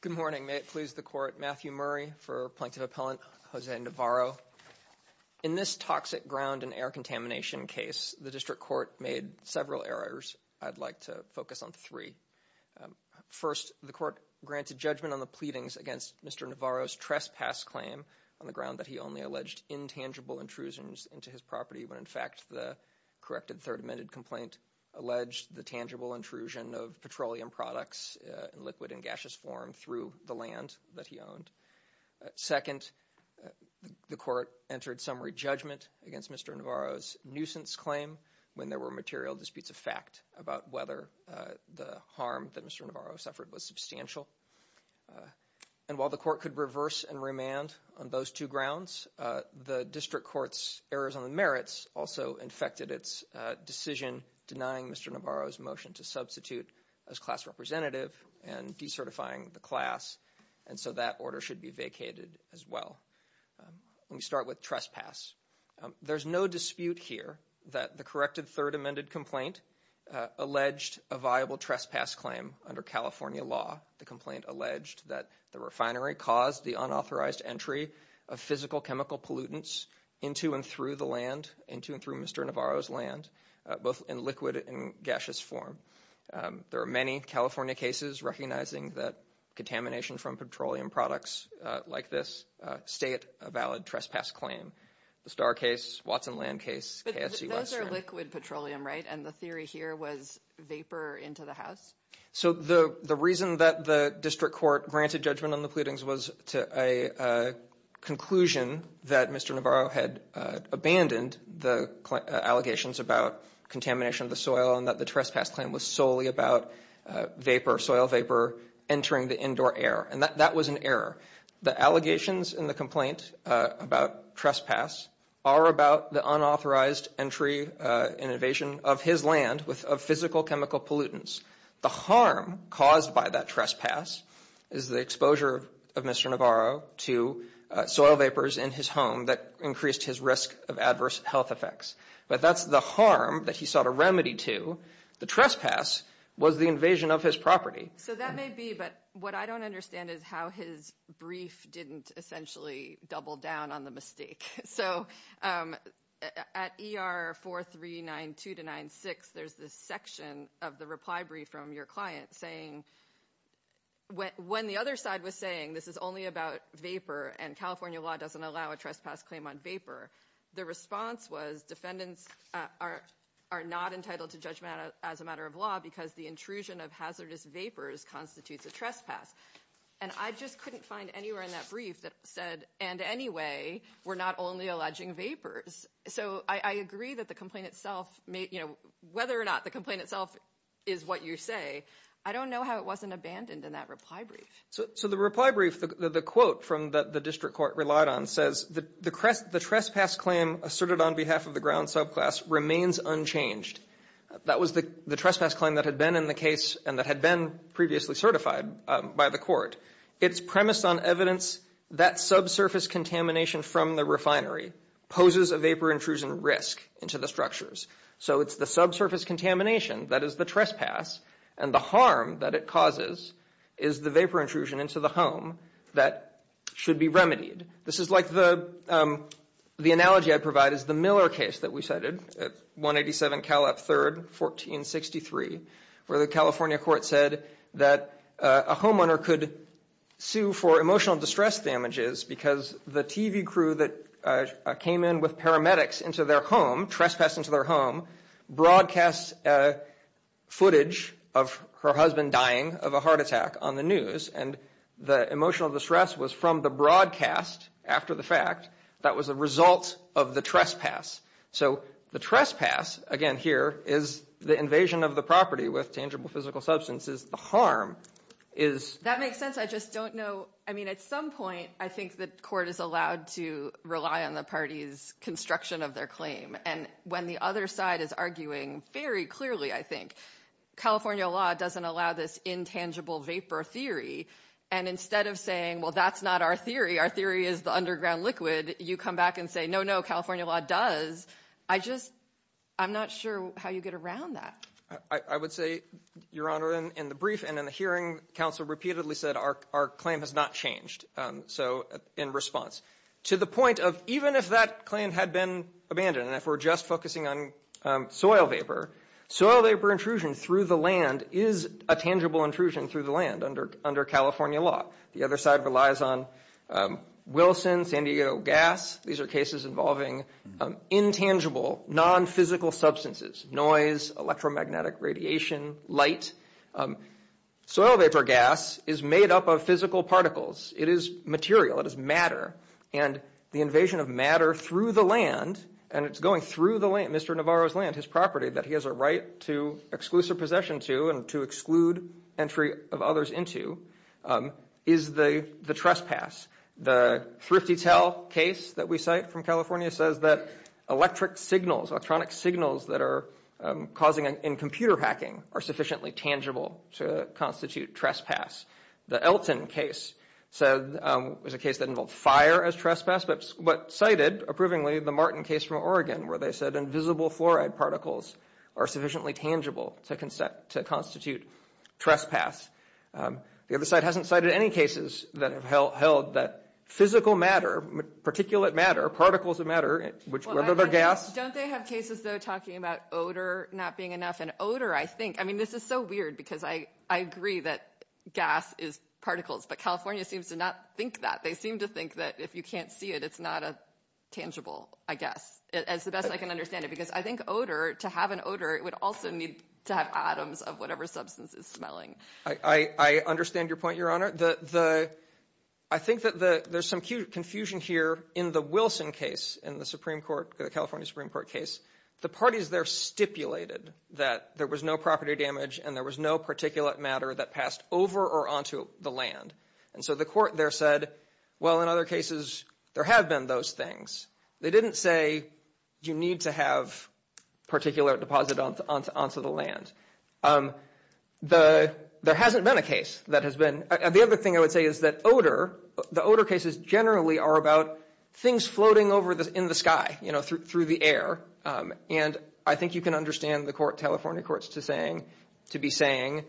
Good morning. May it please the Court, Matthew Murray for Plaintiff Appellant Jose Navarro. In this toxic ground and air contamination case, the District Court made several errors. I'd like to focus on three. First, the Court granted judgment on the pleadings against Mr. Navarro's trespass claim on the ground that he only alleged intangible intrusions into his property when, in fact, the corrected Third Amendment complaint alleged the tangible intrusion of petroleum products in liquid and gaseous form through the land that he owned. Second, the Court entered summary judgment against Mr. Navarro's nuisance claim when there were material disputes of fact about whether the harm that Mr. Navarro suffered was substantial. And while the Court could reverse and remand on those two grounds, the District Court's errors on the merits also infected its decision denying Mr. Navarro's motion to substitute as class representative and decertifying the class, and so that order should be vacated as well. Let me start with trespass. There's no dispute here that the corrected Third Amendment complaint alleged a viable trespass claim under California law. The complaint alleged that the refinery caused the unauthorized entry of physical chemical pollutants into and through the land, into and through Mr. Navarro's land, both in liquid and gaseous form. There are many California cases recognizing that contamination from petroleum products like this stay at a valid trespass claim. The Starr case, Watson Land case. Those are liquid petroleum, right? And the theory here was vapor into the house? So the reason that the District Court granted judgment on the pollutants was to a conclusion that Mr. Navarro had abandoned the allegations about contamination of the soil and that the trespass claim was solely about vapor, soil vapor, entering the indoor air. And that was an error. The allegations in the complaint about trespass are about the unauthorized entry and invasion of his land with physical chemical pollutants. The harm caused by that trespass is the exposure of Mr. Navarro to soil vapors in his home that increased his risk of adverse health effects. But that's the harm that he sought a remedy to. The trespass was the invasion of his property. So that may be, but what I don't understand is how his brief didn't essentially double down on the mistake. So at ER 4392 to 96, there's this section of the reply brief from your client saying, when the other side was saying this is only about vapor and California law doesn't allow a trespass claim on vapor, the response was defendants are not entitled to judgment as a matter of law because the intrusion of hazardous vapors constitutes a trespass. And I just couldn't find anywhere in that brief that said, and anyway, we're not only alleging vapors. So I agree that the complaint itself, whether or not the complaint itself is what you say, I don't know how it wasn't abandoned in that reply brief. So the reply brief, the quote from the district court relied on says, the trespass claim asserted on behalf of the ground subclass remains unchanged. That was the trespass claim that had been in the case and that had been previously certified by the court. It's premised on evidence that subsurface contamination from the refinery poses a vapor intrusion risk into the structures. So it's the subsurface contamination that is the trespass and the harm that it causes is the vapor intrusion into the home that should be remedied. This is like the analogy I provide is the Miller case that we cited at 187 Cal Up 3rd, 1463, where the California court said that a homeowner could sue for emotional distress damages because the TV crew that came in with paramedics into their home, trespassed into their home, broadcast footage of her husband dying of a heart attack on the news. And the emotional distress was from the broadcast after the fact that was a result of the trespass. So the trespass again here is the invasion of the property with tangible physical substances. The harm is that makes sense. I just don't know. I mean, at some point, I think the court is allowed to rely on the party's construction of their claim. And when the other side is arguing very clearly, I think California law doesn't allow this intangible vapor theory. And instead of saying, well, that's not our theory. Our theory is the underground liquid. You come back and say, no, no, California law does. I just I'm not sure how you get around that. I would say, Your Honor, in the brief and in the hearing, counsel repeatedly said our our claim has not changed. So in response to the point of even if that claim had been abandoned and if we're just focusing on soil vapor, soil vapor intrusion through the land is a tangible intrusion through the land under under California law. The other side relies on Wilson, San Diego gas. These are cases involving intangible, nonphysical substances, noise, electromagnetic radiation, light. Soil vapor gas is made up of physical particles. It is material. It is matter. And the invasion of matter through the land and it's going through the land, Mr. Navarro's land, his property, that he has a right to exclusive possession to and to exclude entry of others into, is the the trespass. The Thrifty Tell case that we cite from California says that electric signals, electronic signals that are causing in computer hacking are sufficiently tangible to constitute trespass. The Elton case said it was a case that involved fire as trespass, but but cited approvingly the Martin case from Oregon where they said invisible fluoride particles are sufficiently tangible to consent to constitute trespass. The other side hasn't cited any cases that have held that physical matter, particulate matter, particles of matter, whether they're gas. Don't they have cases though talking about odor not being enough? And odor, I think, I mean this is so weird because I I agree that gas is particles, but California seems to not think that. They seem to think that if you can't see it, it's not a tangible, I guess, as the best I can understand it. Because I think odor, to have an odor, it also needs to have atoms of whatever substance is smelling. I I understand your point, Your Honor. The the I think that the there's some confusion here in the Wilson case in the Supreme Court, the California Supreme Court case. The parties there stipulated that there was no property damage and there was no particulate matter that passed over or onto the land. And so the court there said, well, in other cases there have been those things. They didn't say you need to have particulate deposit onto the land. The there hasn't been a case that has been. The other thing I would say is that odor, the odor cases generally are about things floating over in the sky, you know, through the air. And I think you can understand the court, California courts, to saying to be saying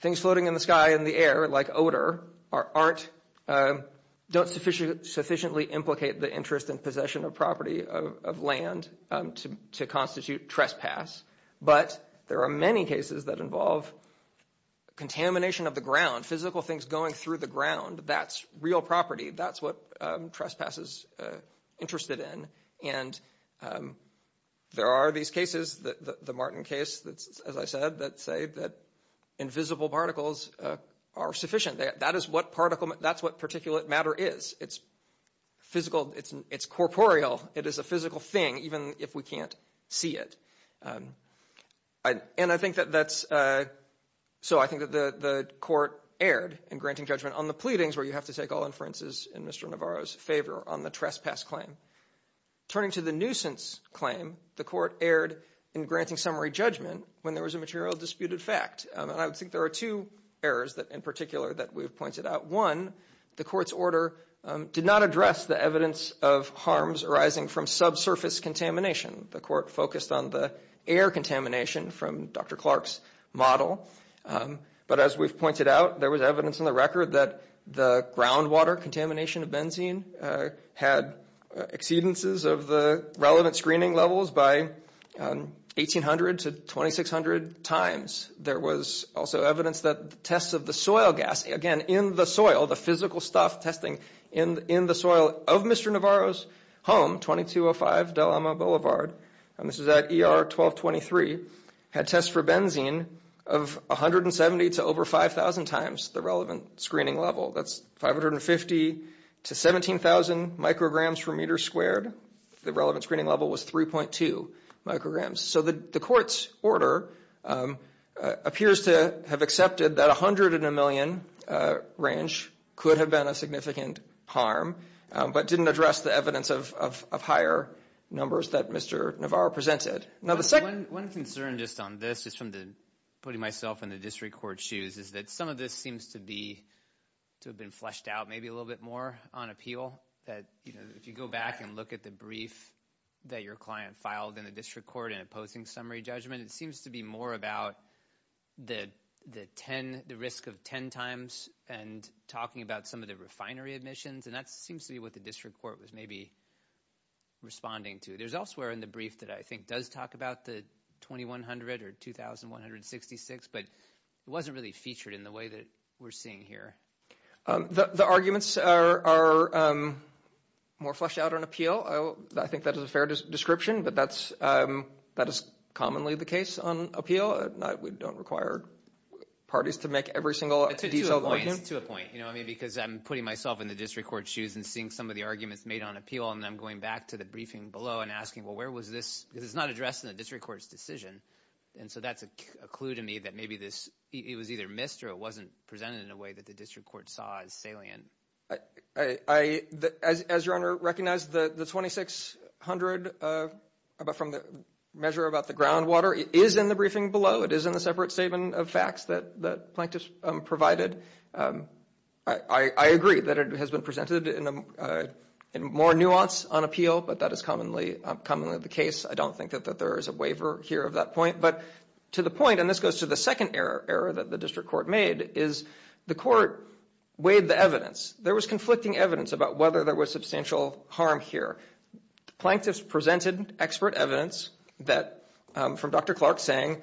things floating in the sky and the air like odor are aren't don't sufficiently implicate the interest and possession of property of land to to constitute trespass. But there are many cases that involve contamination of the ground, physical things going through the ground. That's real property. That's what trespass is interested in. And there are these cases, the Martin case, that's, as I said, that say that invisible particles are sufficient. That is what particle that's what particulate matter is. It's physical. It's corporeal. It is a physical thing, even if we can't see it. And I think that that's so I think that the court erred in granting judgment on the pleadings where you have to take all inferences in Mr. Navarro's favor on the trespass claim. Turning to the nuisance claim, the court erred in granting summary judgment when there was a material disputed fact. And I would think there are two errors that in particular that we've pointed out. One, the court's order did not address the evidence of harms arising from subsurface contamination. The court focused on the air contamination from Dr. Clark's model. But as we've pointed out, there was evidence in the record that the groundwater contamination of benzene had exceedances of the relevant screening levels by 1800 to 2600 times. There was also evidence that tests of the soil gas again in the soil, the physical stuff testing in in the soil of Mr. Navarro's home, 2205 Delama Boulevard. And this is that ER 1223 had tests for benzene of 170 to over 5000 times the relevant screening level. That's 550 to 17000 micrograms per meter squared. The relevant screening level was 3.2 micrograms. So the court's order appears to have accepted that 100 in a million range could have been a significant harm, but didn't address the evidence of higher numbers that Mr. Navarro presented. Now, the second one concern just on this is from the putting myself in the district court shoes is that some of this seems to be to have been fleshed out maybe a little bit more on appeal that, you know, if you go back and look at the brief that your client filed in the district court in a posting summary judgment, it seems to be more about the 10, the risk of 10 times and talking about some of the refinery admissions and that seems to be what the district court was maybe responding to. There's elsewhere in the brief that I think does talk about the 2100 or 2166, but it wasn't really featured in the way that we're seeing here. The arguments are more fleshed out on appeal. I think that was a fair description, but that is commonly the case on appeal. We don't require parties to make every single... To a point, you know, I mean, because I'm putting myself in the district court shoes and seeing some of the arguments made on appeal and I'm going back to the briefing below and asking, well, where was this? Because it's not addressed in the district court's decision. And so that's a clue to me that maybe this, it was either missed or it wasn't presented in a way that the district court saw as salient. I, as your honor recognized, the 2600 from the measure about the groundwater is in the briefing below. It is in the separate statement of facts that Plankton provided. I agree that it has been presented in more nuance on appeal, but that is commonly the case. I don't think that there is a waiver here of that point, but to the point, and this goes to the second error that the district court made, is the court weighed the evidence. There was conflicting evidence about whether there was substantial harm here. Plankton presented expert evidence that from Dr. Clark saying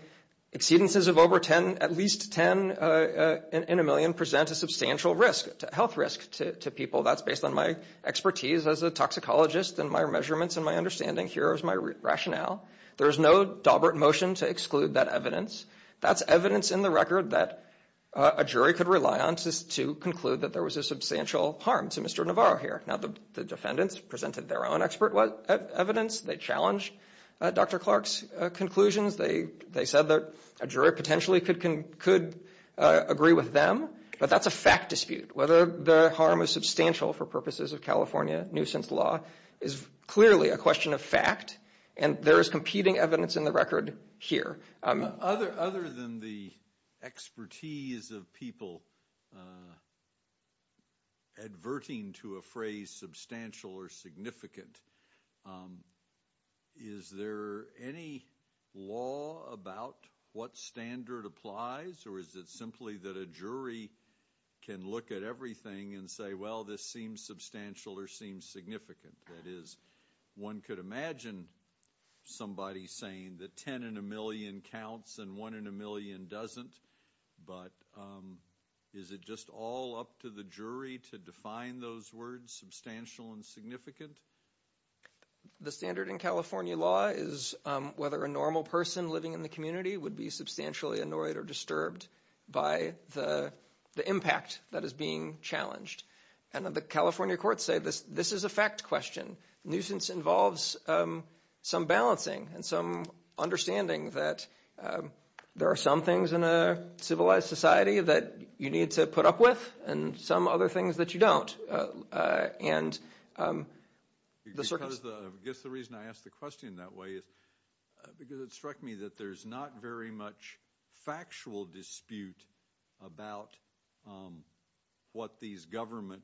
exceedances of over 10, at least 10 in a million present a substantial risk to health risk to people. That's based on my expertise as a toxicologist and my measurements and my understanding here is my rationale. There is no dobert motion to exclude that evidence. That's evidence in the record that a jury could rely on to conclude that there was a substantial harm to Mr. Navarro here. Now the defendants presented their own expert evidence. They challenged Dr. Clark's conclusions. They said that a jury potentially could agree with them, but that's a fact dispute. Whether the harm is substantial for purposes of California nuisance law is clearly a question of fact and there is competing evidence in the record here. Other than the expertise of people adverting to a phrase substantial or significant, is there any law about what standard applies or is it simply that a jury can look at everything and say well this seems substantial or seems significant. That is one could imagine somebody saying that 10 in a million counts and 1 in a million doesn't, but is it just all up to the jury to define those words substantial and significant? The standard in California law is whether a normal person living in the community would be substantially annoyed or disturbed by the impact that is being challenged. The California courts say this is a fact question. Nuisance involves some balancing and some understanding that there are some things in a civilized society that you need to put up with and some other things that you don't. I guess the reason I asked the question that way is because it struck me that there is not very much factual dispute about what these government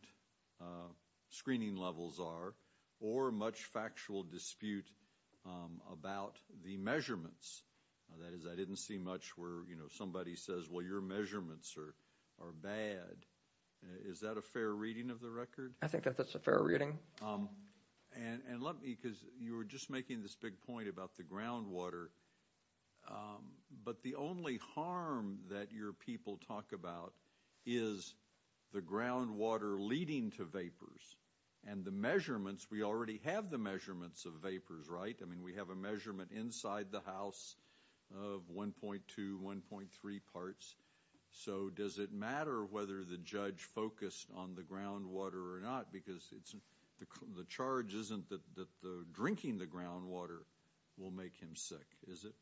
screening levels are or much factual dispute about the measurements. That is I didn't see much where somebody says well your measurements are bad. Is that a fair reading of the record? I think that is a fair reading. And let me because you were just making this big point about the ground water, but the only harm that your people talk about is the ground water leading to vapors and the measurements we already have the measurements of vapors, right? I mean we have a measurement inside the house of 1.2, 1.3 parts. So does it matter whether the judge focused on the ground water or not because the charge isn't that drinking the ground water will make him sick, is it?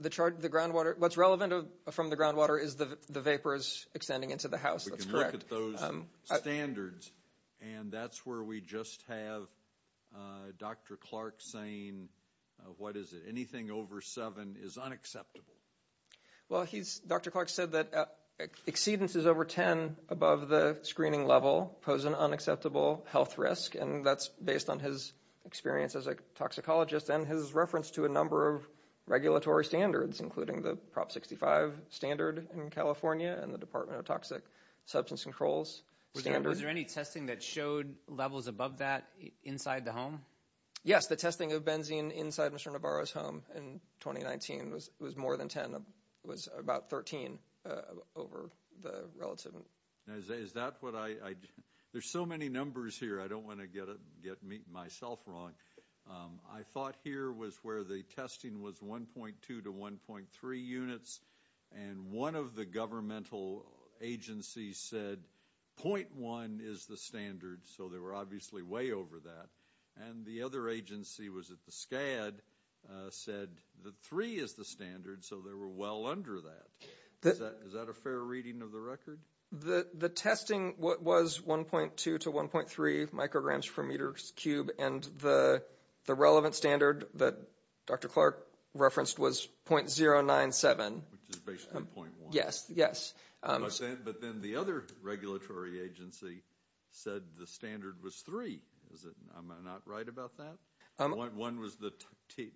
The charge, the ground water, what's relevant from the ground water is the vapors extending into the house. We can look at those standards and that's where we just have Dr. Clark saying what is it? Anything over seven is unacceptable. Well he's Dr. Clark said that exceedances over 10 above the screening level pose an unacceptable health risk and that's based on his experience as a toxicologist and his reference to a number of regulatory standards including the Prop 65 standard in California and the Department of Toxic Substance Controls standard. Is there any testing that showed levels above that inside the home? Yes, the testing of benzene inside Mr. Navarro's home in 2019 was more than 10, it was about 13 over the relative. Is that what I, there's so many numbers here I don't want to get myself wrong. I thought here was where the testing was 1.2 to 1.3 units and one of the governmental agencies said 0.1 is the standard so they were obviously way over that and the other agency was at the SCAD said the three is the standard so they were well under that. Is that a fair reading of the record? The testing was 1.2 to 1.3 micrograms per meter cube and the relevant standard that Dr. Clark referenced was 0.097. Which is basically 0.1. Yes, yes. But then the other regulatory agency said the standard was three. Is it, am I not right about that? One was the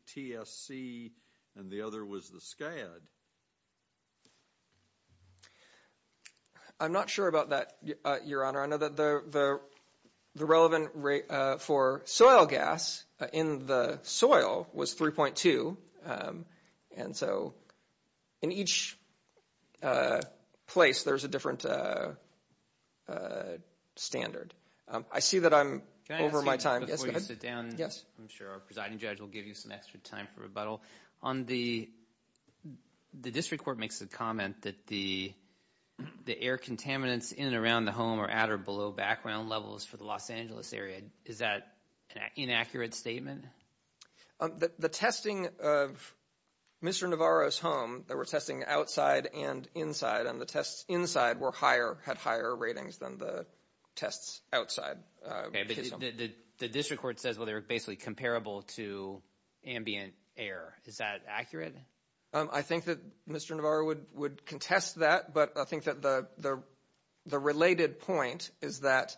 TSC and the other was the SCAD. I'm not sure about that, your honor. I know that the relevant rate for soil gas in the soil was 3.2. And so in each place there's a different standard. I see that I'm over my time. Yes, go ahead. Before you sit down, I'm sure our presiding judge will give you some extra time for rebuttal. On the, the district court makes a comment that the air contaminants in and around the home are at or below background levels for the Los Angeles area. Is that an inaccurate statement? The testing of Mr. Navarro's home, they were testing outside and inside and the tests inside were higher, had higher ratings than the tests outside. The district court says, well, they were basically comparable to ambient air. Is that accurate? I think that Mr. Navarro would contest that, but I think that the related point is that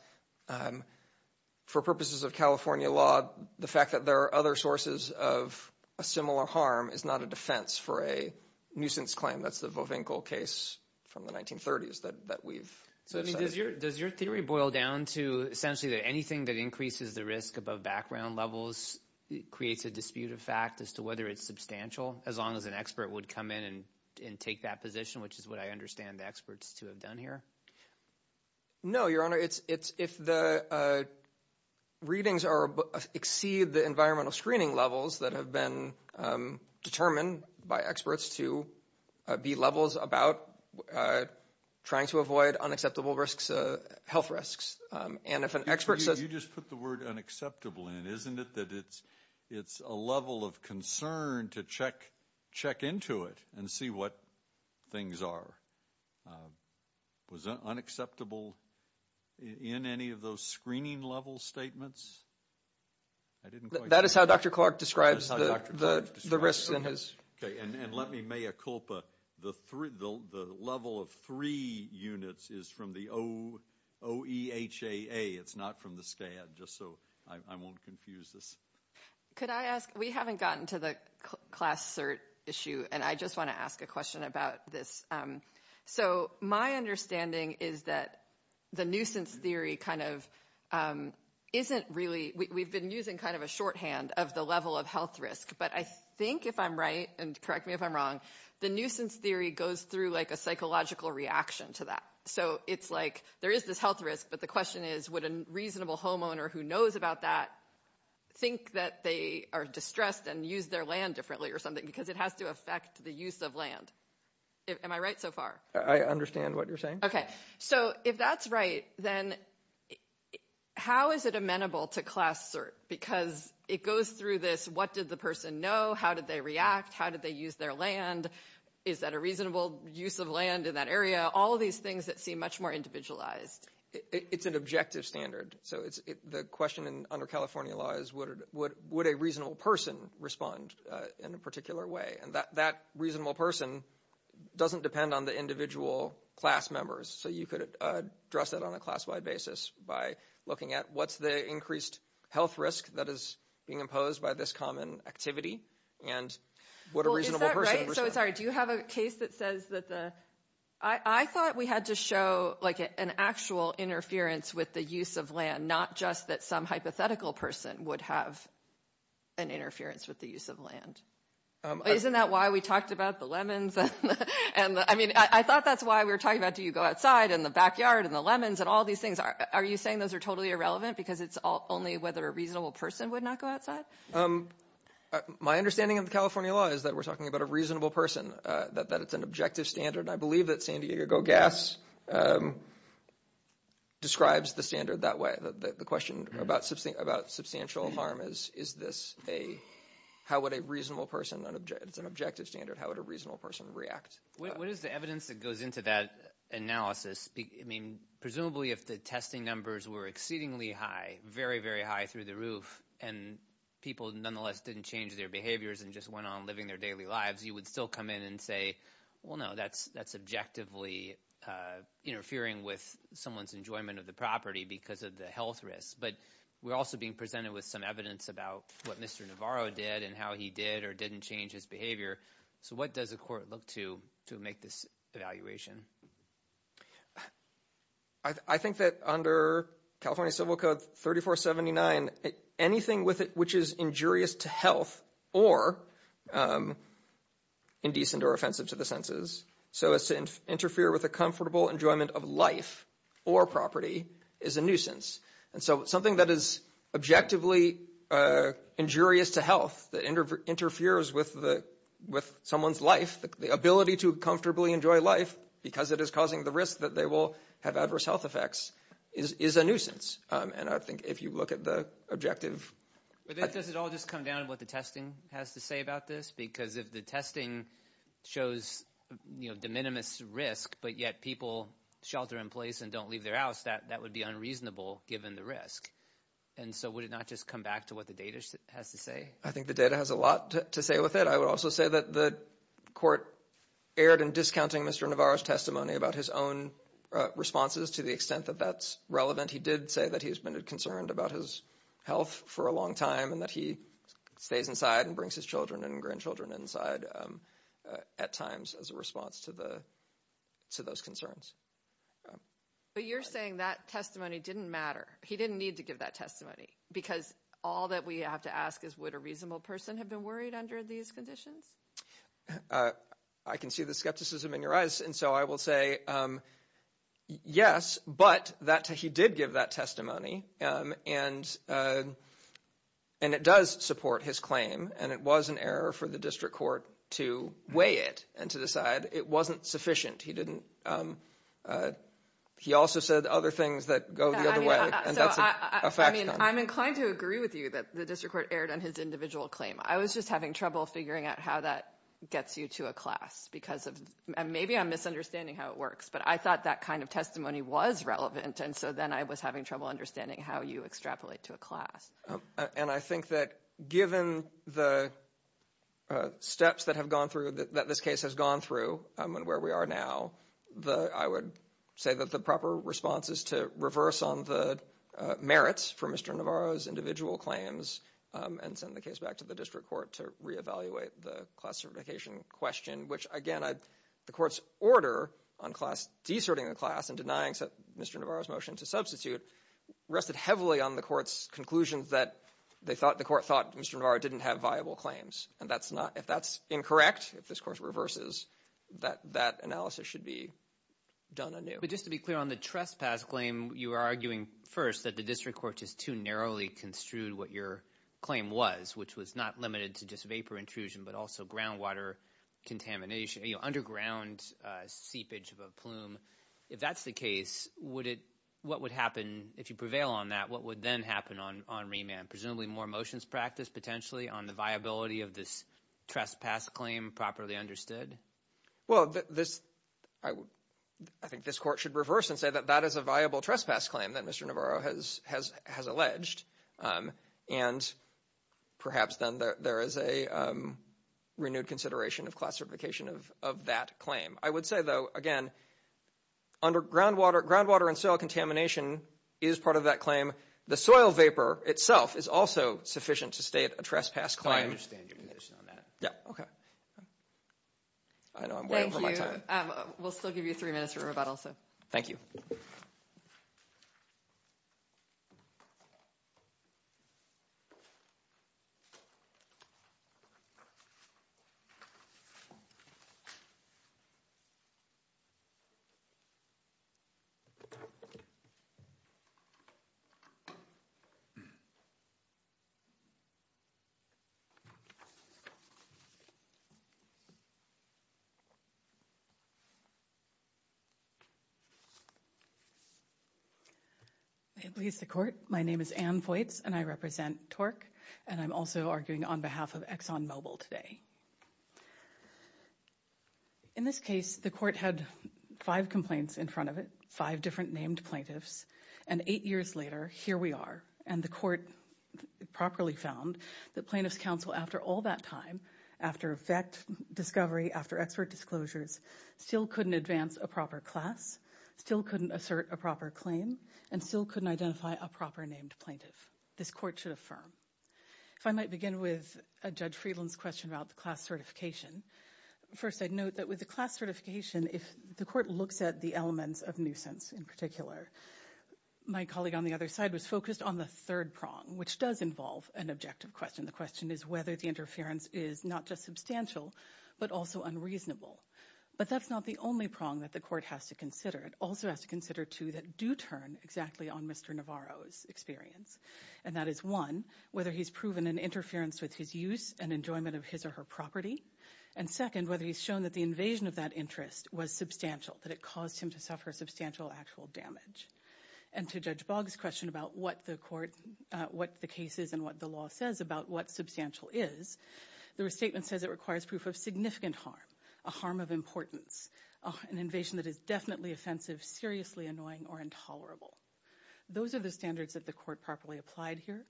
for purposes of California law, the fact that there are other sources of a similar harm is not a defense for a nuisance claim. That's the Vovinkel case from the 1930s that we've. Does your theory boil down to essentially that anything that increases the risk above background levels creates a dispute of fact as to whether it's substantial as long as an expert would come in and take that position, which is what I understand the experts to have done here? No, your honor. It's if the readings exceed the environmental screening levels that have been determined by experts to be levels about trying to avoid unacceptable health risks. And if an expert says- You just put the word unacceptable in. Isn't it that it's a level of concern to check into it and see what things are? Was unacceptable in any of those screening level statements? That is how Dr. Clark describes the risks in his- Okay, and let me mea culpa. The level of three units is from the OEHAA. It's not from the SCAD, just so I won't confuse this. Could I ask? We haven't gotten to the class cert issue, and I just want to ask a question about this. So my understanding is that the nuisance theory kind of isn't really, we've been using kind of a shorthand of the level of health risk. But I think if I'm right, and correct me if I'm wrong, the nuisance theory goes through like a psychological reaction to that. So it's like there is this health risk, but the question is would a reasonable homeowner who knows about that think that they are distressed and use their land differently or something because it has to affect the use of land. Am I right so far? I understand what you're saying. Okay, so if that's right, then how is it amenable to class cert? Because it goes through this, what did the person know? How did they react? How did they use their land? Is that a reasonable use of land in that area? All of these things that seem much more individualized. It's an objective standard. So the question under California law is would a reasonable person respond in a particular way? And that reasonable person doesn't depend on the individual class members. So you could address that on a class-wide basis by looking at what's the increased health risk that is being imposed by this common activity and what a reasonable person would say. So sorry, do you have a case that says that the... I thought we had to show like an actual interference with the use of land, not just that some hypothetical person would have an interference with the use of land. Isn't that why we talked about the lemons and the... I mean, I thought that's why we were talking about do you go outside in the backyard and the lemons and all these things. Are you saying those are totally irrelevant because it's only whether a reasonable person would not go outside? My understanding of the California law is that we're talking about a reasonable person, that it's an objective standard. And I believe that San Diego Gas describes the standard that way. The question about substantial harm is, is this a... How would a reasonable person, it's an objective standard, how would a reasonable person react? What is the evidence that goes into that analysis? I mean, presumably if the testing numbers were exceedingly high, very, very high through the roof and people nonetheless didn't change their behaviors and just went on living their daily lives, you would still come in and say, well, no, that's objectively interfering with someone's enjoyment of the property because of the health risks. But we're also being presented with some evidence about what Mr. Navarro did and how he did or didn't change his behavior. So what does a court look to to make this evaluation? I think that under California Civil Code 3479, anything which is injurious to health or indecent or offensive to the senses, so as to interfere with a comfortable enjoyment of life or property, is a nuisance. And so something that is objectively injurious to health, that interferes with someone's life, the ability to comfortably enjoy life because it is causing the risk that they will have adverse health effects, is a nuisance. And I think if you look at the objective... But does it all just come down to what the testing has to say about this? Because if the testing shows, you know, de minimis risk, but yet people shelter in place and don't leave their house, that would be unreasonable given the risk. And so would it not just come back to what the data has to say? I think the data has a lot to say with it. I would also say that the court erred in discounting Mr. Navarro's testimony about his own responses to the extent that that's relevant. He did say that he has been concerned about his health for a long time and that he stays inside and brings his children and grandchildren inside at times as a response to those concerns. But you're saying that testimony didn't matter. He didn't need to give that testimony because all that we have to ask is would a reasonable person have been worried under these conditions? I can see the skepticism in your eyes and so I will say yes, but that he did give that testimony and it does support his claim and it was an error for the district court to weigh it and to decide it wasn't sufficient. He also said other things that go the other way and that's a fact. I'm inclined to agree with you that the district court erred on his individual claim. I was just having trouble figuring out how that gets you to a class because maybe I'm misunderstanding how it works, but I thought that kind of testimony was relevant and so then I was having trouble understanding how you extrapolate to a class. And I think that given the steps that have gone through, that this case has gone through and where we are now, I would say that the proper response is to reverse on the merits for Mr. Navarro's individual claims and send the case back to the district court to re-evaluate the classification question, which again, the court's order on class deserting the class and denying Mr. Navarro's motion to substitute rested heavily on the court's conclusion that the court thought Mr. Navarro didn't have viable claims and if that's incorrect, if this court reverses, that analysis should be done anew. But just to be clear on the trespass claim, you are arguing first that the district court just too narrowly construed what your claim was, which was not limited to just vapor intrusion but also groundwater contamination, underground seepage of a plume. If that's the case, what would happen if you prevail on that, what would then happen on on remand? Presumably more motions practiced potentially on the viability of this trespass claim properly understood? Well, I think this court should reverse and say that that is a viable trespass claim that Mr. Navarro has alleged and perhaps then there is a renewed consideration of classification of that claim. I would say though, again, groundwater and soil contamination is part of that claim. The soil vapor itself is also sufficient to state a trespass claim. I understand your position on that. Yeah, okay. I know I'm way over my time. We'll still give you three minutes for rebuttal. Thank you. May it please the court. My name is Ann Vojts and I represent TORC and I'm also arguing on behalf of ExxonMobil today. In this case, the court had five complaints in front of it, five different named plaintiffs and eight years later, here we are and the court properly found the plaintiff's counsel after all that time, after effect discovery, after expert disclosures, still couldn't advance a proper class, still couldn't assert a proper claim and still couldn't identify a proper named plaintiff. This court should affirm. If I might begin with Judge Friedland's question about the class certification, first I'd note that with the class certification, if the court looks at the elements of nuisance in particular, my colleague on the other side was focused on the third prong, which does involve an objective question. The question is whether the interference is not just substantial, but also unreasonable. But that's not the only prong that the court has to consider. It also has to consider two that do turn exactly on Mr. Navarro's experience. And that is one, whether he's proven an interference with his use and enjoyment of his or her property. And second, whether he's shown that the invasion of that interest was substantial, that it caused him to suffer substantial actual damage. And to Judge Boggs' question about what the court, what the case is and what the law says about what substantial is, the restatement says it requires proof of significant harm, a harm of importance, an invasion that is definitely offensive, seriously annoying, or intolerable. Those are the standards that the court properly applied here.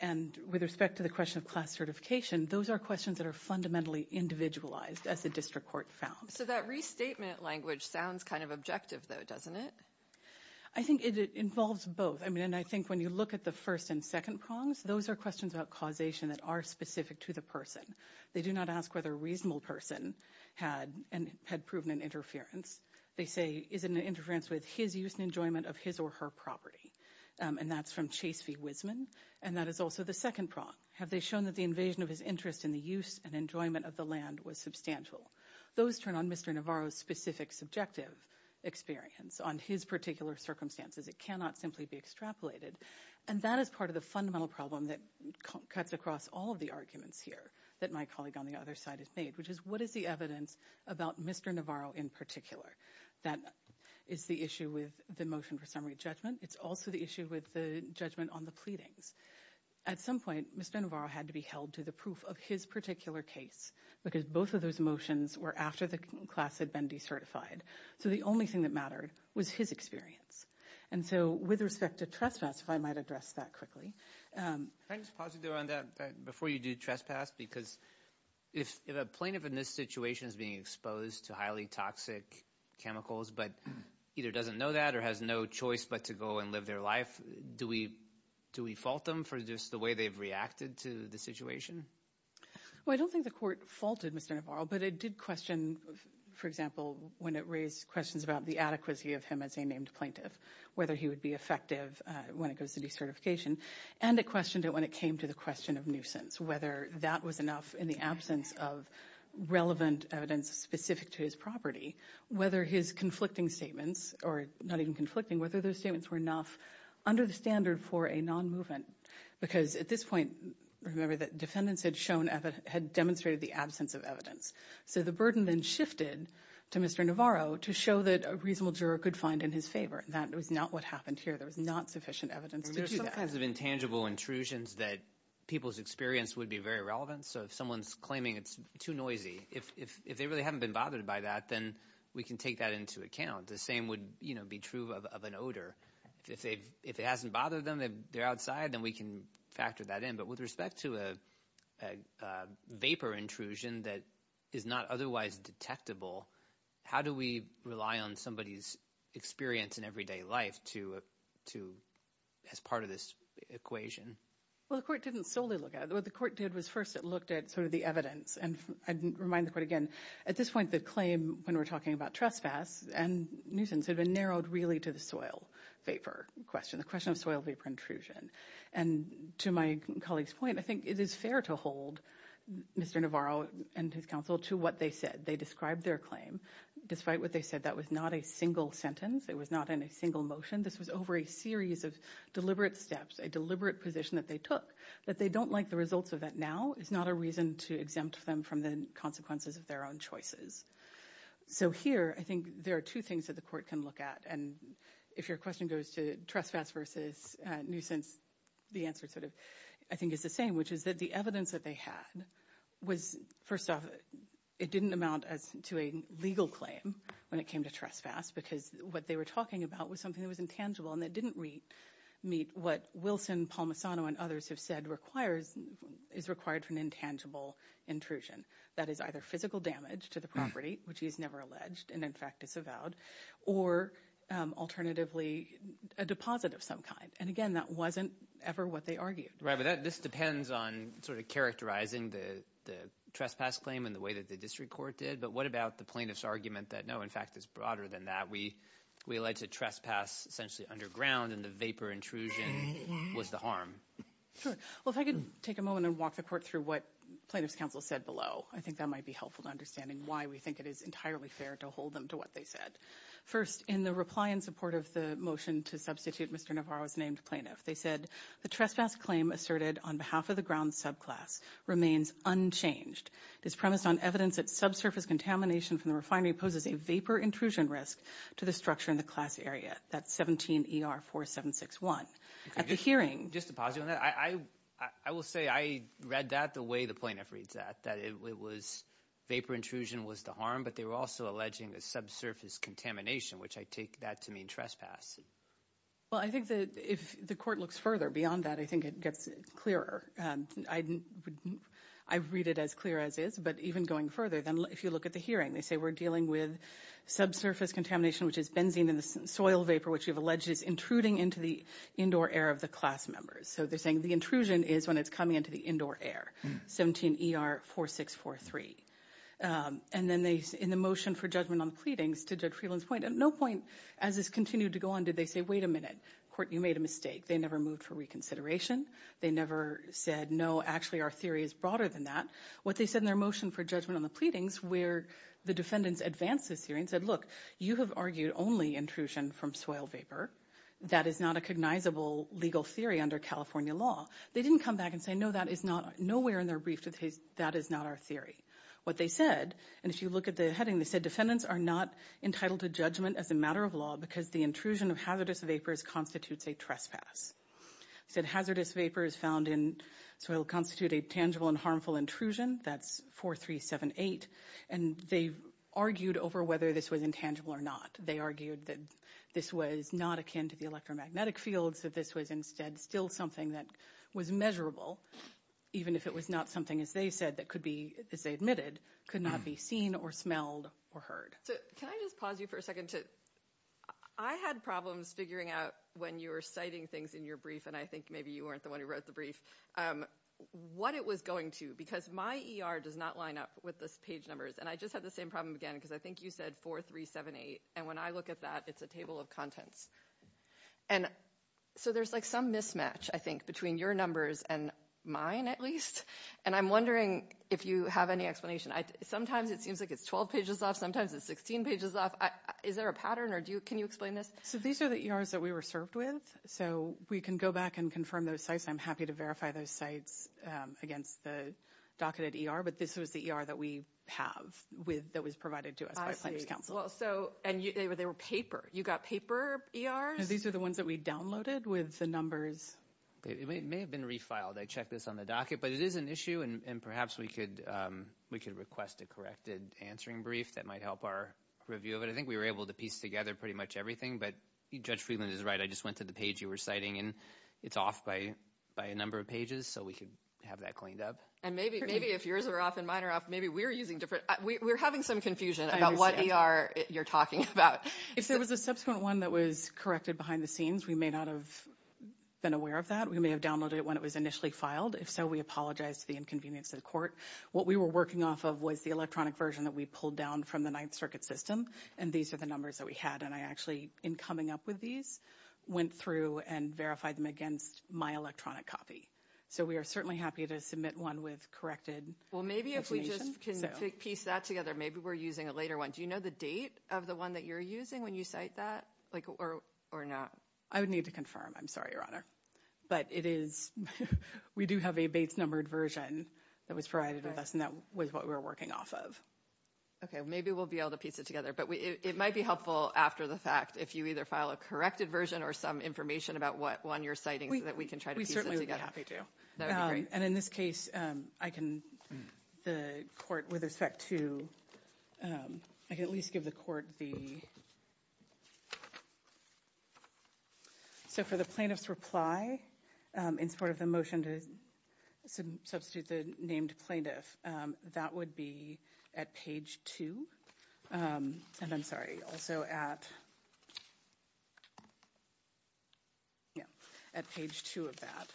And with respect to the question of class certification, those are questions that are fundamentally individualized, as the district court found. So that restatement language sounds kind of objective, though, doesn't it? I think it involves both. And I think when you look at the first and second prongs, those are questions about causation that are specific to the person. They do not ask whether a reasonable person had proven an interference. They say, is it an interference with his use and enjoyment of his or her property? And that's from Chase V. Wiseman. And that is also the second prong. Have they shown that the invasion of his interest in the use and enjoyment of the land was substantial? Those turn on Mr. Navarro's specific subjective experience on his particular circumstances. It cannot simply be extrapolated. And that is part of the fundamental problem that cuts across all of the arguments here that my colleague on the other side has made, which is, what is the evidence about Mr. Navarro in particular? That is the issue with the motion for summary judgment. It's also the issue with the judgment on the pleadings. At some point, Mr. Navarro had to be held to the proof of his particular case, because both of those motions were after the class had been decertified. So the only thing that mattered was his experience. And so with respect to trespass, if I might address that quickly. Can I just pause you there on that before you do trespass? Because if a plaintiff in this situation is being exposed to highly toxic chemicals but either doesn't know that or has no choice but to go and live their life, do we fault them for just the way they've reacted to the situation? Well, I don't think the court faulted Mr. Navarro, but it did question, for example, when it raised questions about the adequacy of him as a named plaintiff, whether he would be effective when it goes to decertification. And it questioned it when it came to the question of nuisance, whether that was enough in the absence of relevant evidence specific to his property, whether his conflicting statements or not even conflicting, whether those statements were enough under the standard for a non-movement. Because at this point, remember that defendants had demonstrated the absence of evidence. So the burden then shifted to Mr. Navarro to show that a reasonable juror could find in his favor. That was not what happened here. There was not sufficient evidence to do that. There are some kinds of intangible intrusions that people's experience would be very relevant. So if someone's claiming it's too noisy, if they really haven't been bothered by that, then we can take that into account. The same would be true of an odor. If it hasn't bothered them, they're outside, then we can factor that in. But with respect to a vapor intrusion that is not otherwise detectable, how do we rely on somebody's experience in everyday life as part of this equation? Well, the court didn't solely look at it. What the court did was first it looked at sort of the evidence. And I'd remind the court again, at this point, the claim when we're talking about trespass and nuisance had been narrowed really to the soil vapor question, the question of soil vapor intrusion. And to my colleague's point, I think it is fair to hold Mr. Navarro and his counsel to what they said. They described their claim. Despite what they said, that was not a single sentence. It was not in a single motion. This was over a series of deliberate steps, a deliberate position that they took. That they don't like the results of that now is not a reason to exempt them from the consequences of their own choices. So here, I think there are two things that the court can look at. And if your question goes to trespass versus nuisance, the answer sort of, I think, is the same, which is that the evidence that they had was, first off, it didn't amount to a legal claim when it came to trespass because what they were talking about was something that was intangible and that didn't meet what Wilson, Palmisano, and others have said is required for an intangible intrusion. That is either physical damage to the property, which he's never alleged and in fact disavowed, or alternatively, a deposit of some kind. And again, that wasn't ever what they argued. Right, but this depends on sort of characterizing the trespass claim in the way that the district court did. But what about the plaintiff's argument that, no, in fact, it's broader than that? We alleged a trespass essentially underground and the vapor intrusion was the harm. Sure. Well, if I could take a moment and walk the court through what plaintiff's counsel said below. I think that might be helpful to understanding why we think it is entirely fair to hold them to what they said. First, in the reply in support of the motion to substitute Mr. Navarro's named plaintiff, they said, the trespass claim asserted on behalf of the ground subclass remains unchanged. It is premised on evidence that subsurface contamination from the refinery poses a vapor intrusion risk to the structure in the class area. That's 17 ER 4761. At the hearing- Just to posit on that, I will say I read that the way the plaintiff reads that, that it was vapor intrusion was the harm, but they were also alleging a subsurface contamination, which I take that to mean trespass. Well, I think that if the court looks further beyond that, I think it gets clearer. I read it as clear as is. But even going further, if you look at the hearing, they say we're dealing with subsurface contamination, which is benzene in the soil vapor, which you've alleged is intruding into the indoor air of the class members. So they're saying the intrusion is when it's coming into the indoor air, 17 ER 4643. And then in the motion for judgment on the pleadings, to Judge Freeland's point, at no point as this continued to go on did they say, wait a minute, court, you made a mistake. They never moved for reconsideration. They never said, no, actually, our theory is broader than that. What they said in their motion for judgment on the pleadings where the defendants advanced this hearing said, look, you have argued only intrusion from soil vapor. That is not a cognizable legal theory under California law. They didn't come back and say, no, that is not nowhere in their brief that is not our theory. What they said, and if you look at the heading, they said defendants are not entitled to judgment as a matter of law because the intrusion of hazardous vapors constitutes a trespass. They said hazardous vapors found in soil constitute a tangible and harmful intrusion. That's 4378. And they argued over whether this was intangible or not. They argued that this was not akin to the electromagnetic fields, that this was instead still something that was measurable, even if it was not something, as they said, that could be, as they admitted, could not be seen or smelled or heard. So can I just pause you for a second to, I had problems figuring out when you were citing things in your brief, and I think maybe you weren't the one who wrote the brief, what it was going to, because my ER does not line up with the page numbers. And I just had the same problem again, because I think you said 4378. And when I look at that, it's a table of contents. And so there's like some mismatch, I think, between your numbers and mine, at least. And I'm wondering if you have any explanation. Sometimes it seems like it's 12 pages off. Sometimes it's 16 pages off. Is there a pattern, or do you, can you explain this? So these are the ERs that we were served with. So we can go back and confirm those sites. I'm happy to verify those sites against the docketed ER. But this was the ER that we have with, that was provided to us by Planners Council. And they were paper. You got paper ERs? These are the ones that we downloaded with the numbers. It may have been refiled. I checked this on the docket. But it is an issue, and perhaps we could request a corrected answering brief that might help our review of it. I think we were able to piece together pretty much everything. But Judge Freeland is right. I just went to the page you were citing, and it's off by a number of pages. So we could have that cleaned up. And maybe if yours are off and mine are off, maybe we're using different, we're having some confusion about what ER you're talking about. If there was a subsequent one that was corrected behind the scenes, we may not have been aware of that. We may have downloaded it when it was initially filed. If so, we apologize for the inconvenience to the court. What we were working off of was the electronic version that we pulled down from the Ninth Circuit system. And these are the numbers that we had. And I actually, in coming up with these, went through and verified them against my electronic copy. So we are certainly happy to submit one with corrected information. Well, maybe if we just can piece that together, maybe we're using a later one. Do you know the date of the one that you're using when you cite that, or not? I would need to confirm. I'm sorry, Your Honor. But it is, we do have a base-numbered version that was provided with us, and that was what we were working off of. Okay, maybe we'll be able to piece it together. But it might be helpful after the fact if you either file a corrected version or some information about what one you're citing so that we can try to piece it together. We certainly would be happy to. That would be great. And in this case, I can, the court, with respect to, I can at least give the court the, so for the plaintiff's reply, in support of the motion to substitute the named plaintiff, that would be at page 2. And I'm sorry, also at, yeah, at page 2 of that.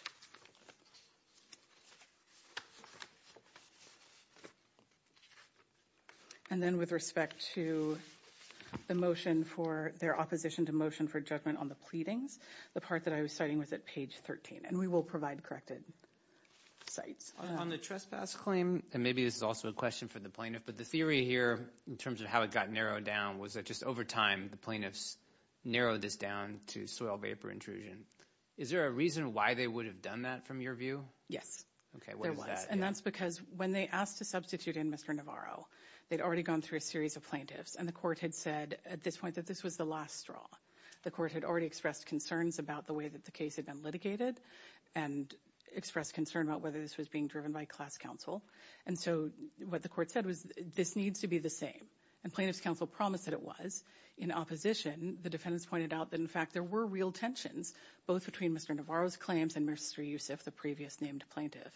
And then with respect to the motion for, their opposition to motion for judgment on the pleadings, the part that I was citing was at page 13. And we will provide corrected cites. On the trespass claim, and maybe this is also a question for the plaintiff, but the theory here in terms of how it got narrowed down was that just over time, the plaintiffs narrowed this down to soil vapor intrusion. Is there a reason why they would have done that from your view? Yes, there was. And that's because when they asked to substitute in Mr. Navarro, they'd already gone through a series of plaintiffs and the court had said at this point that this was the last straw. The court had already expressed concerns about the way that the case had been litigated and expressed concern about whether this was being driven by class counsel. And so what the court said was this needs to be the same. And plaintiff's counsel promised that it was. In opposition, the defendants pointed out that, in fact, there were real tensions, both between Mr. Navarro's claims and Mr. Yusuf, the previous named plaintiff,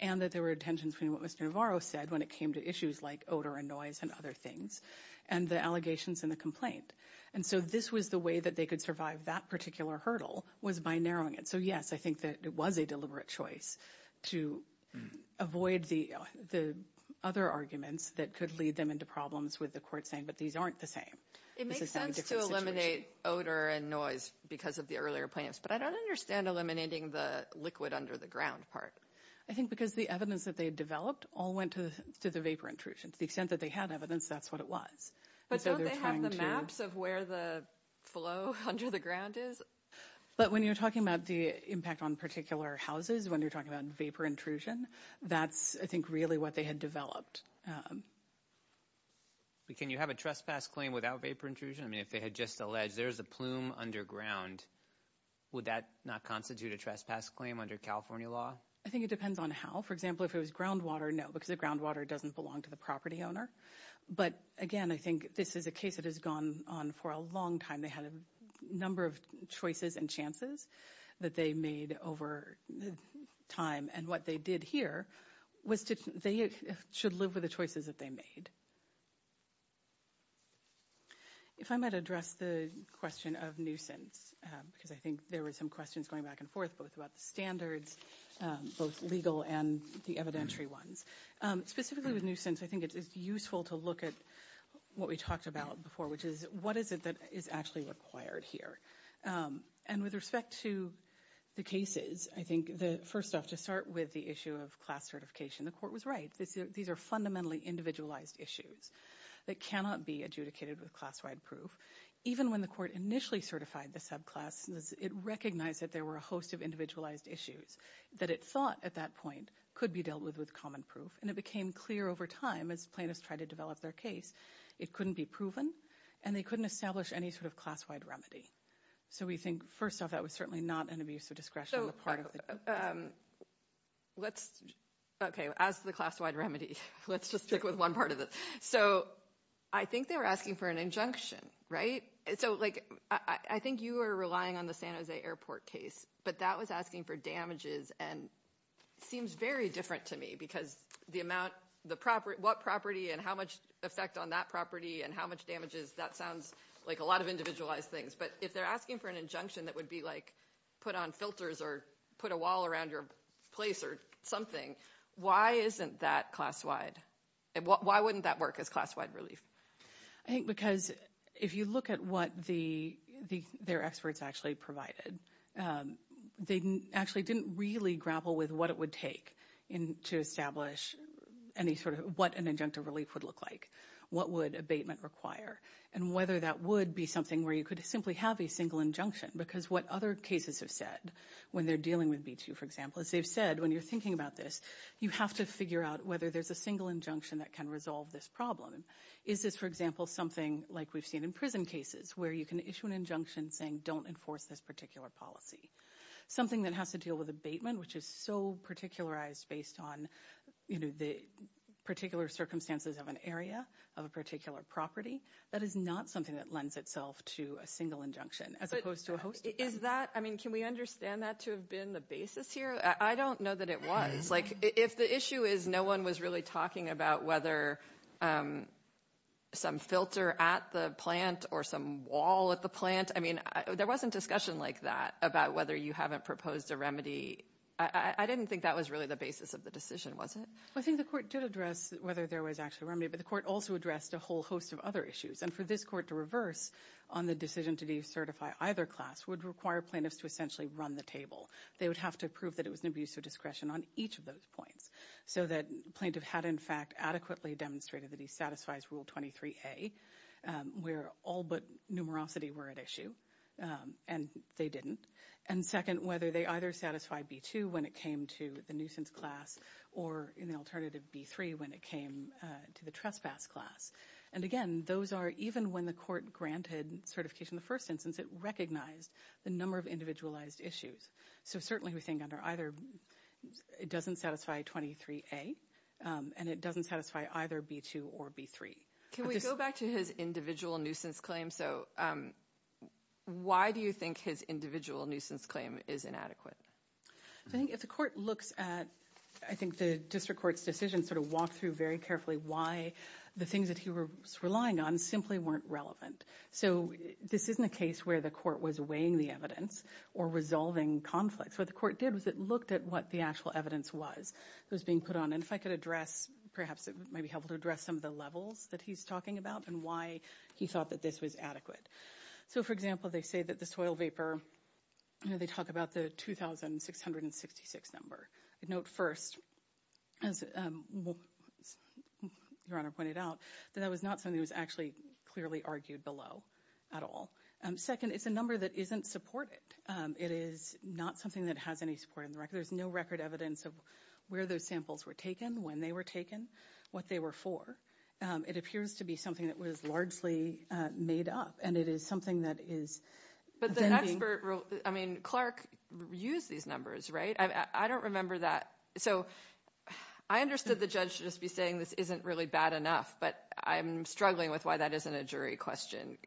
and that there were tensions between what Mr. Navarro said when it came to issues like odor and noise and other things and the allegations in the complaint. And so this was the way that they could survive that particular hurdle was by narrowing it. So, yes, I think that it was a deliberate choice to avoid the other arguments that could lead them into problems with the court saying, but these aren't the same. It makes sense to eliminate odor and noise because of the earlier plaintiffs, but I don't understand eliminating the liquid under the ground part. I think because the evidence that they developed all went to the vapor intrusion. To the extent that they had evidence, that's what it was. But don't they have the maps of where the flow under the ground is? But when you're talking about the impact on particular houses, when you're talking about vapor intrusion, that's, I think, really what they had developed. But can you have a trespass claim without vapor intrusion? I mean, if they had just alleged there's a plume underground, would that not constitute a trespass claim under California law? I think it depends on how. For example, if it was groundwater, no, because the groundwater doesn't belong to the property owner. But again, I think this is a case that has gone on for a long time. They had a number of choices and chances that they made over time. And what they did here was they should live with the choices that they made. If I might address the question of nuisance, because I think there were some questions going back and forth, both about the standards, both legal and the evidentiary ones. Specifically with nuisance, I think it's useful to look at what we talked about before, which is what is it that is actually required here? And with respect to the cases, I think the first off, to start with the issue of class certification, the court was right. These are fundamentally individualized issues that cannot be adjudicated with class-wide proof. Even when the court initially certified the subclass, it recognized that there were a host of individualized issues that it thought at that point could be dealt with with common proof. And it became clear over time as plaintiffs tried to develop their case, it couldn't be proven and they couldn't establish any sort of class-wide remedy. So we think, first off, that was certainly not an abuse of discretion. So let's, okay, as the class-wide remedy, let's just stick with one part of it. So I think they were asking for an injunction, right? So like, I think you are relying on the San Jose airport case, but that was asking for damages and seems very different to me, because the amount, what property and how much effect on that property and how much damages, that sounds like a lot of individualized things. But if they're asking for an injunction that would be like put on filters or put a wall around your place or something, why isn't that class-wide? Why wouldn't that work as class-wide relief? I think because if you look at what their experts actually provided, they actually didn't really grapple with what it would take to establish any sort of what an injunctive relief would look like, what would abatement require, and whether that would be something where you could simply have a single injunction. Because what other cases have said when they're dealing with B2, for example, is they've said when you're thinking about this, you have to figure out whether there's a single injunction that can resolve this problem. Is this, for example, something like we've seen in prison cases, where you can issue an injunction saying don't enforce this particular policy? Something that has to deal with abatement, which is so particularized based on the particular circumstances of an area, of a particular property, that is not something that lends itself to a single injunction as opposed to a host. Is that, I mean, can we understand that to have been the basis here? I don't know that it was. Like if the issue is no one was really talking about whether some filter at the plant or some wall at the plant, I mean, there wasn't discussion like that about whether you haven't proposed a remedy. I didn't think that was really the basis of the decision, was it? I think the court did address whether there was actually a remedy, but the court also addressed a whole host of other issues. And for this court to reverse on the decision to decertify either class would require plaintiffs to essentially run the table. They would have to prove that it was an abuse of discretion on each of those points. So that plaintiff had, in fact, adequately demonstrated that he satisfies Rule 23A, where all but numerosity were at issue, and they didn't. And second, whether they either satisfy B2 when it came to the nuisance class or an alternative B3 when it came to the trespass class. And again, those are even when the court granted certification the first instance, it recognized the number of individualized issues. So certainly we think under either, it doesn't satisfy 23A, and it doesn't satisfy either B2 or B3. Can we go back to his individual nuisance claim? Why do you think his individual nuisance claim is inadequate? So I think if the court looks at, I think the district court's decision sort of walk through very carefully why the things that he was relying on simply weren't relevant. So this isn't a case where the court was weighing the evidence or resolving conflicts. What the court did was it looked at what the actual evidence was that was being put on. And if I could address, perhaps it might be helpful to address some of the levels that he's talking about and why he thought that this was adequate. So for example, they say that the soil vapor, you know, they talk about the 2,666 number. I'd note first, as your honor pointed out, that that was not something that was actually clearly argued below at all. Second, it's a number that isn't supported. It is not something that has any support in the record. There's no record evidence of where those samples were taken, when they were taken, what they were for. It appears to be something that was largely made up. And it is something that is... But the expert rule, I mean, Clark used these numbers, right? I don't remember that. So I understood the judge should just be saying this isn't really bad enough, but I'm struggling with why that isn't a jury question.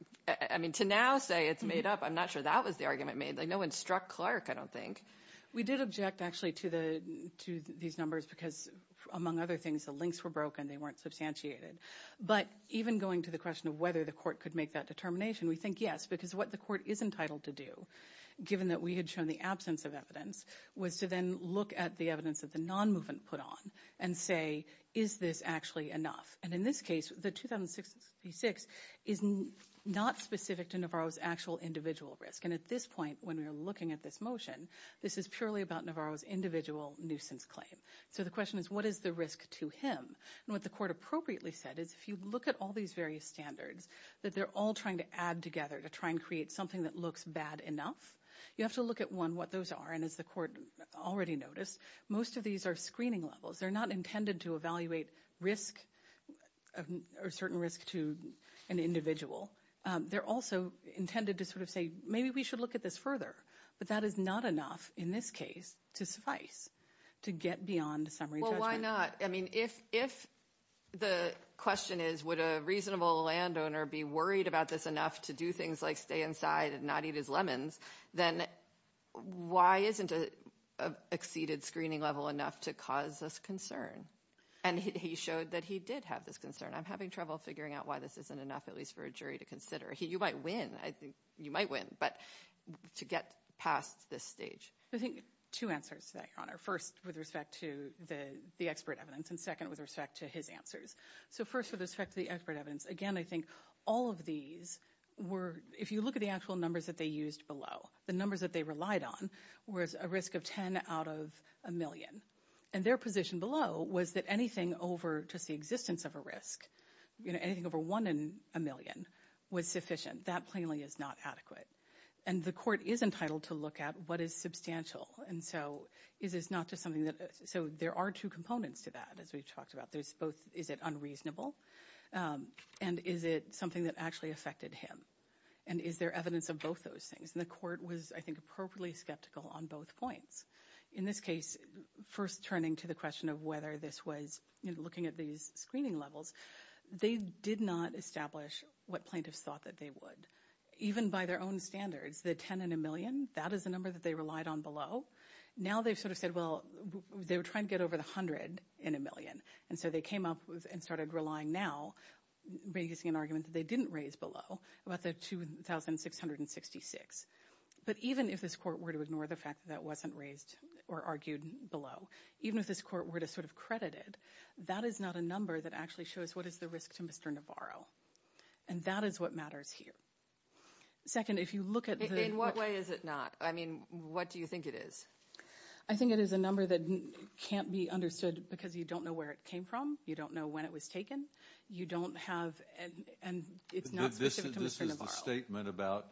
I mean, to now say it's made up, I'm not sure that was the argument made. No one struck Clark, I don't think. We did object actually to these numbers because among other things, the links were broken, they weren't substantiated. But even going to the question of whether the court could make that determination, we think yes, because what the court is entitled to do, given that we had shown the absence of evidence, was to then look at the evidence that the non-movement put on and say, is this actually enough? And in this case, the 2,666 is not specific to Navarro's actual individual risk. And at this point, when we're looking at this motion, this is purely about Navarro's individual nuisance claim. So the question is, what is the risk to him? And what the court appropriately said is, if you look at all these various standards that they're all trying to add together to try and create something that looks bad enough, you have to look at, one, what those are. And as the court already noticed, most of these are screening levels. They're not intended to evaluate risk or certain risk to an individual. They're also intended to sort of say, maybe we should look at this further. But that is not enough, in this case, to suffice, to get beyond summary judgment. Why not? I mean, if the question is, would a reasonable landowner be worried about this enough to do things like stay inside and not eat his lemons, then why isn't an exceeded screening level enough to cause this concern? And he showed that he did have this concern. I'm having trouble figuring out why this isn't enough, at least for a jury to consider. You might win. You might win. But to get past this stage. I think two answers to that, Your Honor. First, with respect to the expert evidence. And second, with respect to his answers. So first, with respect to the expert evidence. Again, I think all of these were, if you look at the actual numbers that they used below, the numbers that they relied on was a risk of 10 out of a million. And their position below was that anything over just the existence of a risk, anything over one in a million was sufficient. That plainly is not adequate. And the court is entitled to look at what is substantial. And so, is this not just something that, so there are two components to that, as we've talked about. There's both, is it unreasonable? And is it something that actually affected him? And is there evidence of both those things? And the court was, I think, appropriately skeptical on both points. In this case, first turning to the question of whether this was, you know, looking at these screening levels, they did not establish what plaintiffs thought that they would. Even by their own standards, the 10 in a million, that is the number that they relied on below. Now they've sort of said, well, they were trying to get over the 100 in a million. And so they came up with and started relying now, raising an argument that they didn't raise below about the 2,666. But even if this court were to ignore the fact that wasn't raised or argued below, even if this court were to sort of credit it, that is not a number that actually shows what is the risk to Mr. Navarro. And that is what matters here. Second, if you look at the- In what way is it not? I mean, what do you think it is? I think it is a number that can't be understood because you don't know where it came from. You don't know when it was taken. You don't have, and it's not specific to Mr. Navarro. This is the statement about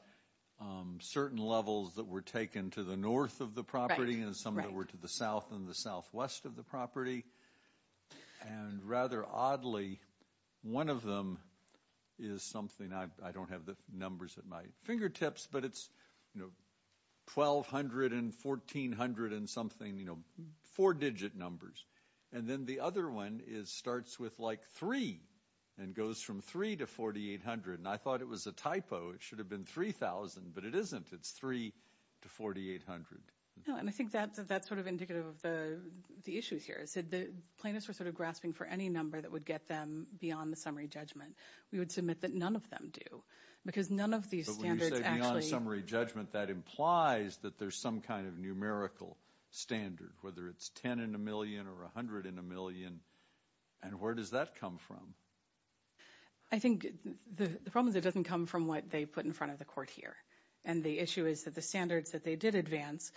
certain levels that were taken to the north of the property and some that were to the south and the southwest of the property. And rather oddly, one of them is something- I don't have the numbers at my fingertips, but it's 1,200 and 1,400 and something, four-digit numbers. And then the other one starts with like three and goes from three to 4,800. And I thought it was a typo. It should have been 3,000, but it isn't. It's three to 4,800. No, and I think that's sort of indicative of the issues here. The plaintiffs were sort of grasping for any number that would get them beyond the summary judgment. We would submit that none of them do because none of these standards actually- But when you say beyond summary judgment, that implies that there's some kind of numerical standard, whether it's 10 in a million or 100 in a million. And where does that come from? I think the problem is it doesn't come from what they put in front of the court here. And the issue is that the standards that they did advance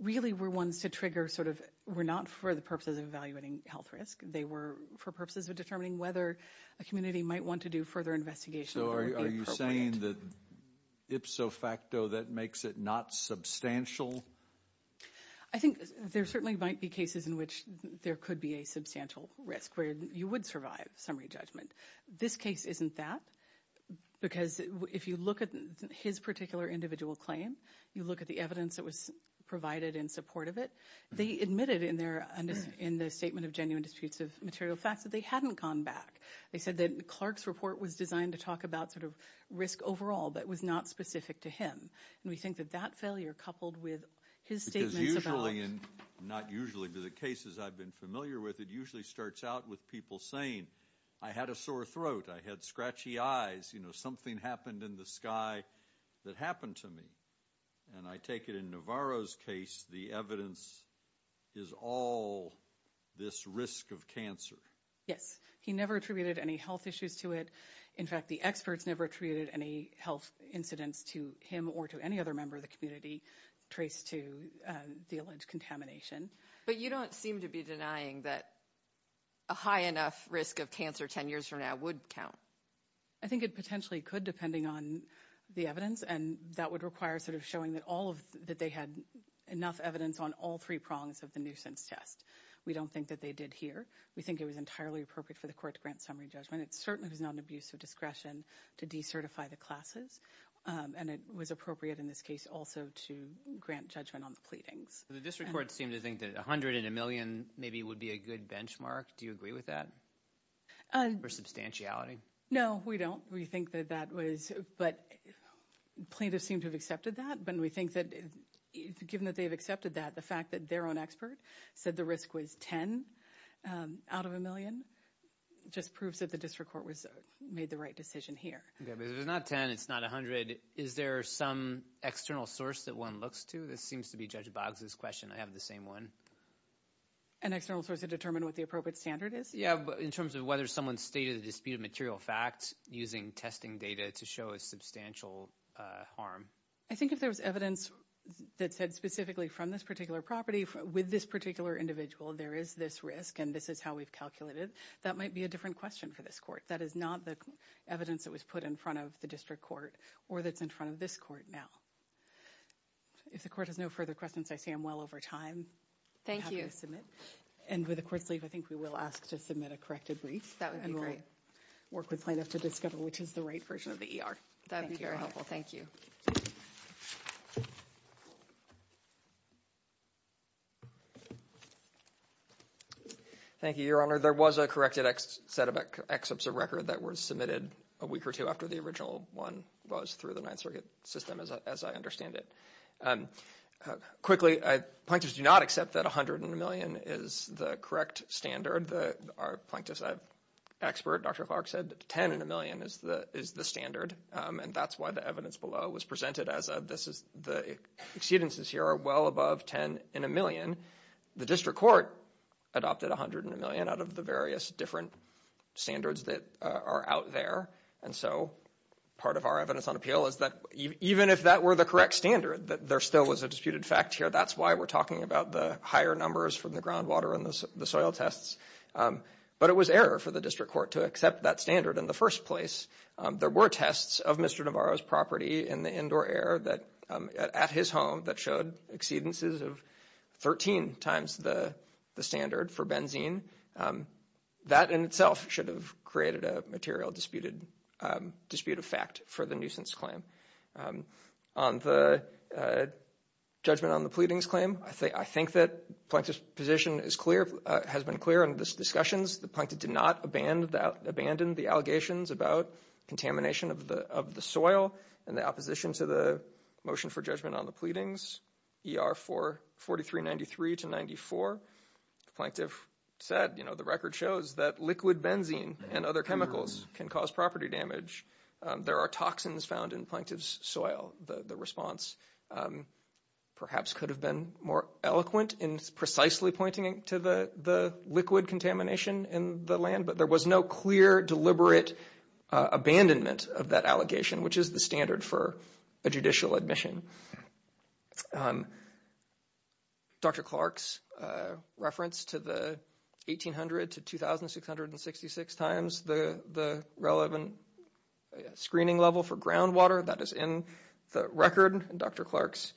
really were ones to trigger sort of- were not for the purposes of evaluating health risk. They were for purposes of determining whether a community might want to do further investigation. So are you saying that ipso facto that makes it not substantial? I think there certainly might be cases in which there could be a substantial risk where you would survive summary judgment. This case isn't that. Because if you look at his particular individual claim, you look at the evidence that was provided in support of it, they admitted in their- in the statement of genuine disputes of material facts that they hadn't gone back. They said that Clark's report was designed to talk about sort of risk overall, but was not specific to him. And we think that that failure coupled with his statements about- Because usually, and not usually, but the cases I've been familiar with, it usually starts out with people saying, I had a sore throat, I had scratchy eyes, you know, something happened in the sky that happened to me. And I take it in Navarro's case, the evidence is all this risk of cancer. Yes. He never attributed any health issues to it. In fact, the experts never attributed any health incidents to him or to any other member of the community traced to the alleged contamination. But you don't seem to be denying that a high enough risk of cancer 10 years from now would count. I think it potentially could, depending on the evidence. And that would require sort of showing that all of- that they had enough evidence on all three prongs of the nuisance test. We don't think that they did here. We think it was entirely appropriate for the court to grant summary judgment. It certainly was not an abuse of discretion to decertify the classes. And it was appropriate in this case also to grant judgment on the pleadings. The district court seemed to think that 100 in a million maybe would be a good benchmark. Do you agree with that? Or substantiality? No, we don't. We think that that was- but plaintiffs seem to have accepted that. But we think that given that they've accepted that, the fact that their own expert said the risk was 10 out of a million just proves that the district court was- made the right decision here. Yeah, but it's not 10. It's not 100. Is there some external source that one looks to? This seems to be Judge Boggs' question. I have the same one. An external source to determine what the appropriate standard is? Yeah, but in terms of whether someone stated a disputed material fact using testing data to show a substantial harm? I think if there was evidence that said specifically from this particular property with this particular individual, there is this risk. And this is how we've calculated. That might be a different question for this court. That is not the evidence that was put in front of the district court or that's in front of this court now. If the court has no further questions, I see I'm well over time. Thank you. And with the court's leave, I think we will ask to submit a corrected brief. That would be great. Work with plaintiff to discover which is the right version of the ER. That would be very helpful. Thank you. Thank you, Your Honor. There was a corrected set of excerpts of record that were submitted a week or two after the original one was through the Ninth Circuit system, as I understand it. Quickly, plaintiffs do not accept that $100 million is the correct standard. Our plaintiff's expert, Dr. Clark, said $10 million is the standard. And that's why the evidence below was presented as the exceedances here are well above $10 million. The district court adopted $100 million out of the various different standards that are out there. And so part of our evidence on appeal is that even if that were the correct standard, that there still was a disputed fact here. That's why we're talking about the higher numbers from the groundwater and the soil tests. But it was error for the district court to accept that standard in the first place. There were tests of Mr. Navarro's property in the indoor air at his home that showed exceedances of 13 times the standard for benzene. That in itself should have created a material disputed fact for the nuisance claim. On the judgment on the pleadings claim, I think that plaintiff's position is clear, has been clear in the discussions. The plaintiff did not abandon the allegations about contamination of the soil and the opposition to the motion for judgment on the pleadings, ER 4393 to 94. The plaintiff said, you know, the record shows that liquid benzene and other chemicals can cause property damage. There are toxins found in plaintiff's soil. The response perhaps could have been more eloquent in precisely pointing to the liquid contamination in the land. But there was no clear, deliberate abandonment of that allegation, which is the standard for a judicial admission. Dr. Clark's reference to the 1800 to 2666 times the relevant screening level for groundwater, that is in the record. Dr. Clark's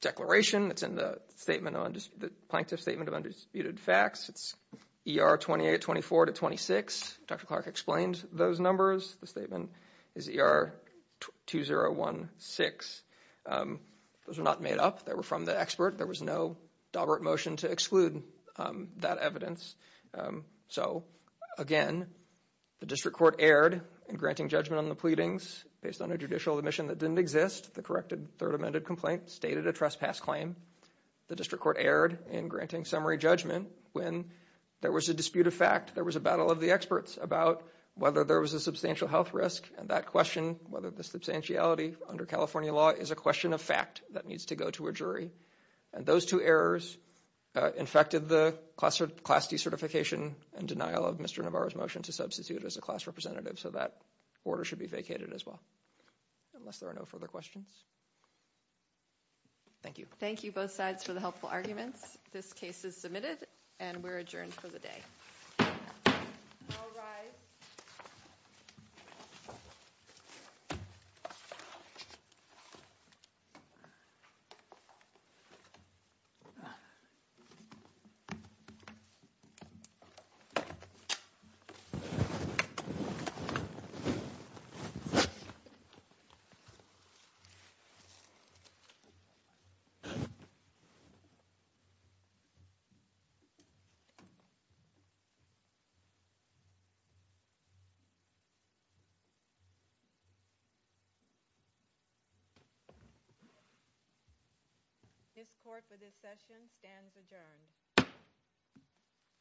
declaration, it's in the statement on the plaintiff's statement of undisputed facts. It's ER 2824 to 26. Dr. Clark explained those numbers. The statement is ER 2016. Those are not made up. They were from the expert. There was no deliberate motion to exclude that evidence. So again, the district court erred in granting judgment on the pleadings based on a judicial admission that didn't exist. The corrected third amended complaint stated a trespass claim. The district court erred in granting summary judgment when there was a dispute of fact. There was a battle of the experts about whether there was a substantial health risk. And that question, whether the substantiality under California law is a question of fact that needs to go to a jury. And those two errors infected the class decertification and denial of Mr. Navarro's motion to substitute as a class representative. So that order should be vacated as well, unless there are no further questions. Thank you. Thank you both sides for the helpful arguments. This case is submitted and we're adjourned for the day. This court for this session stands adjourned.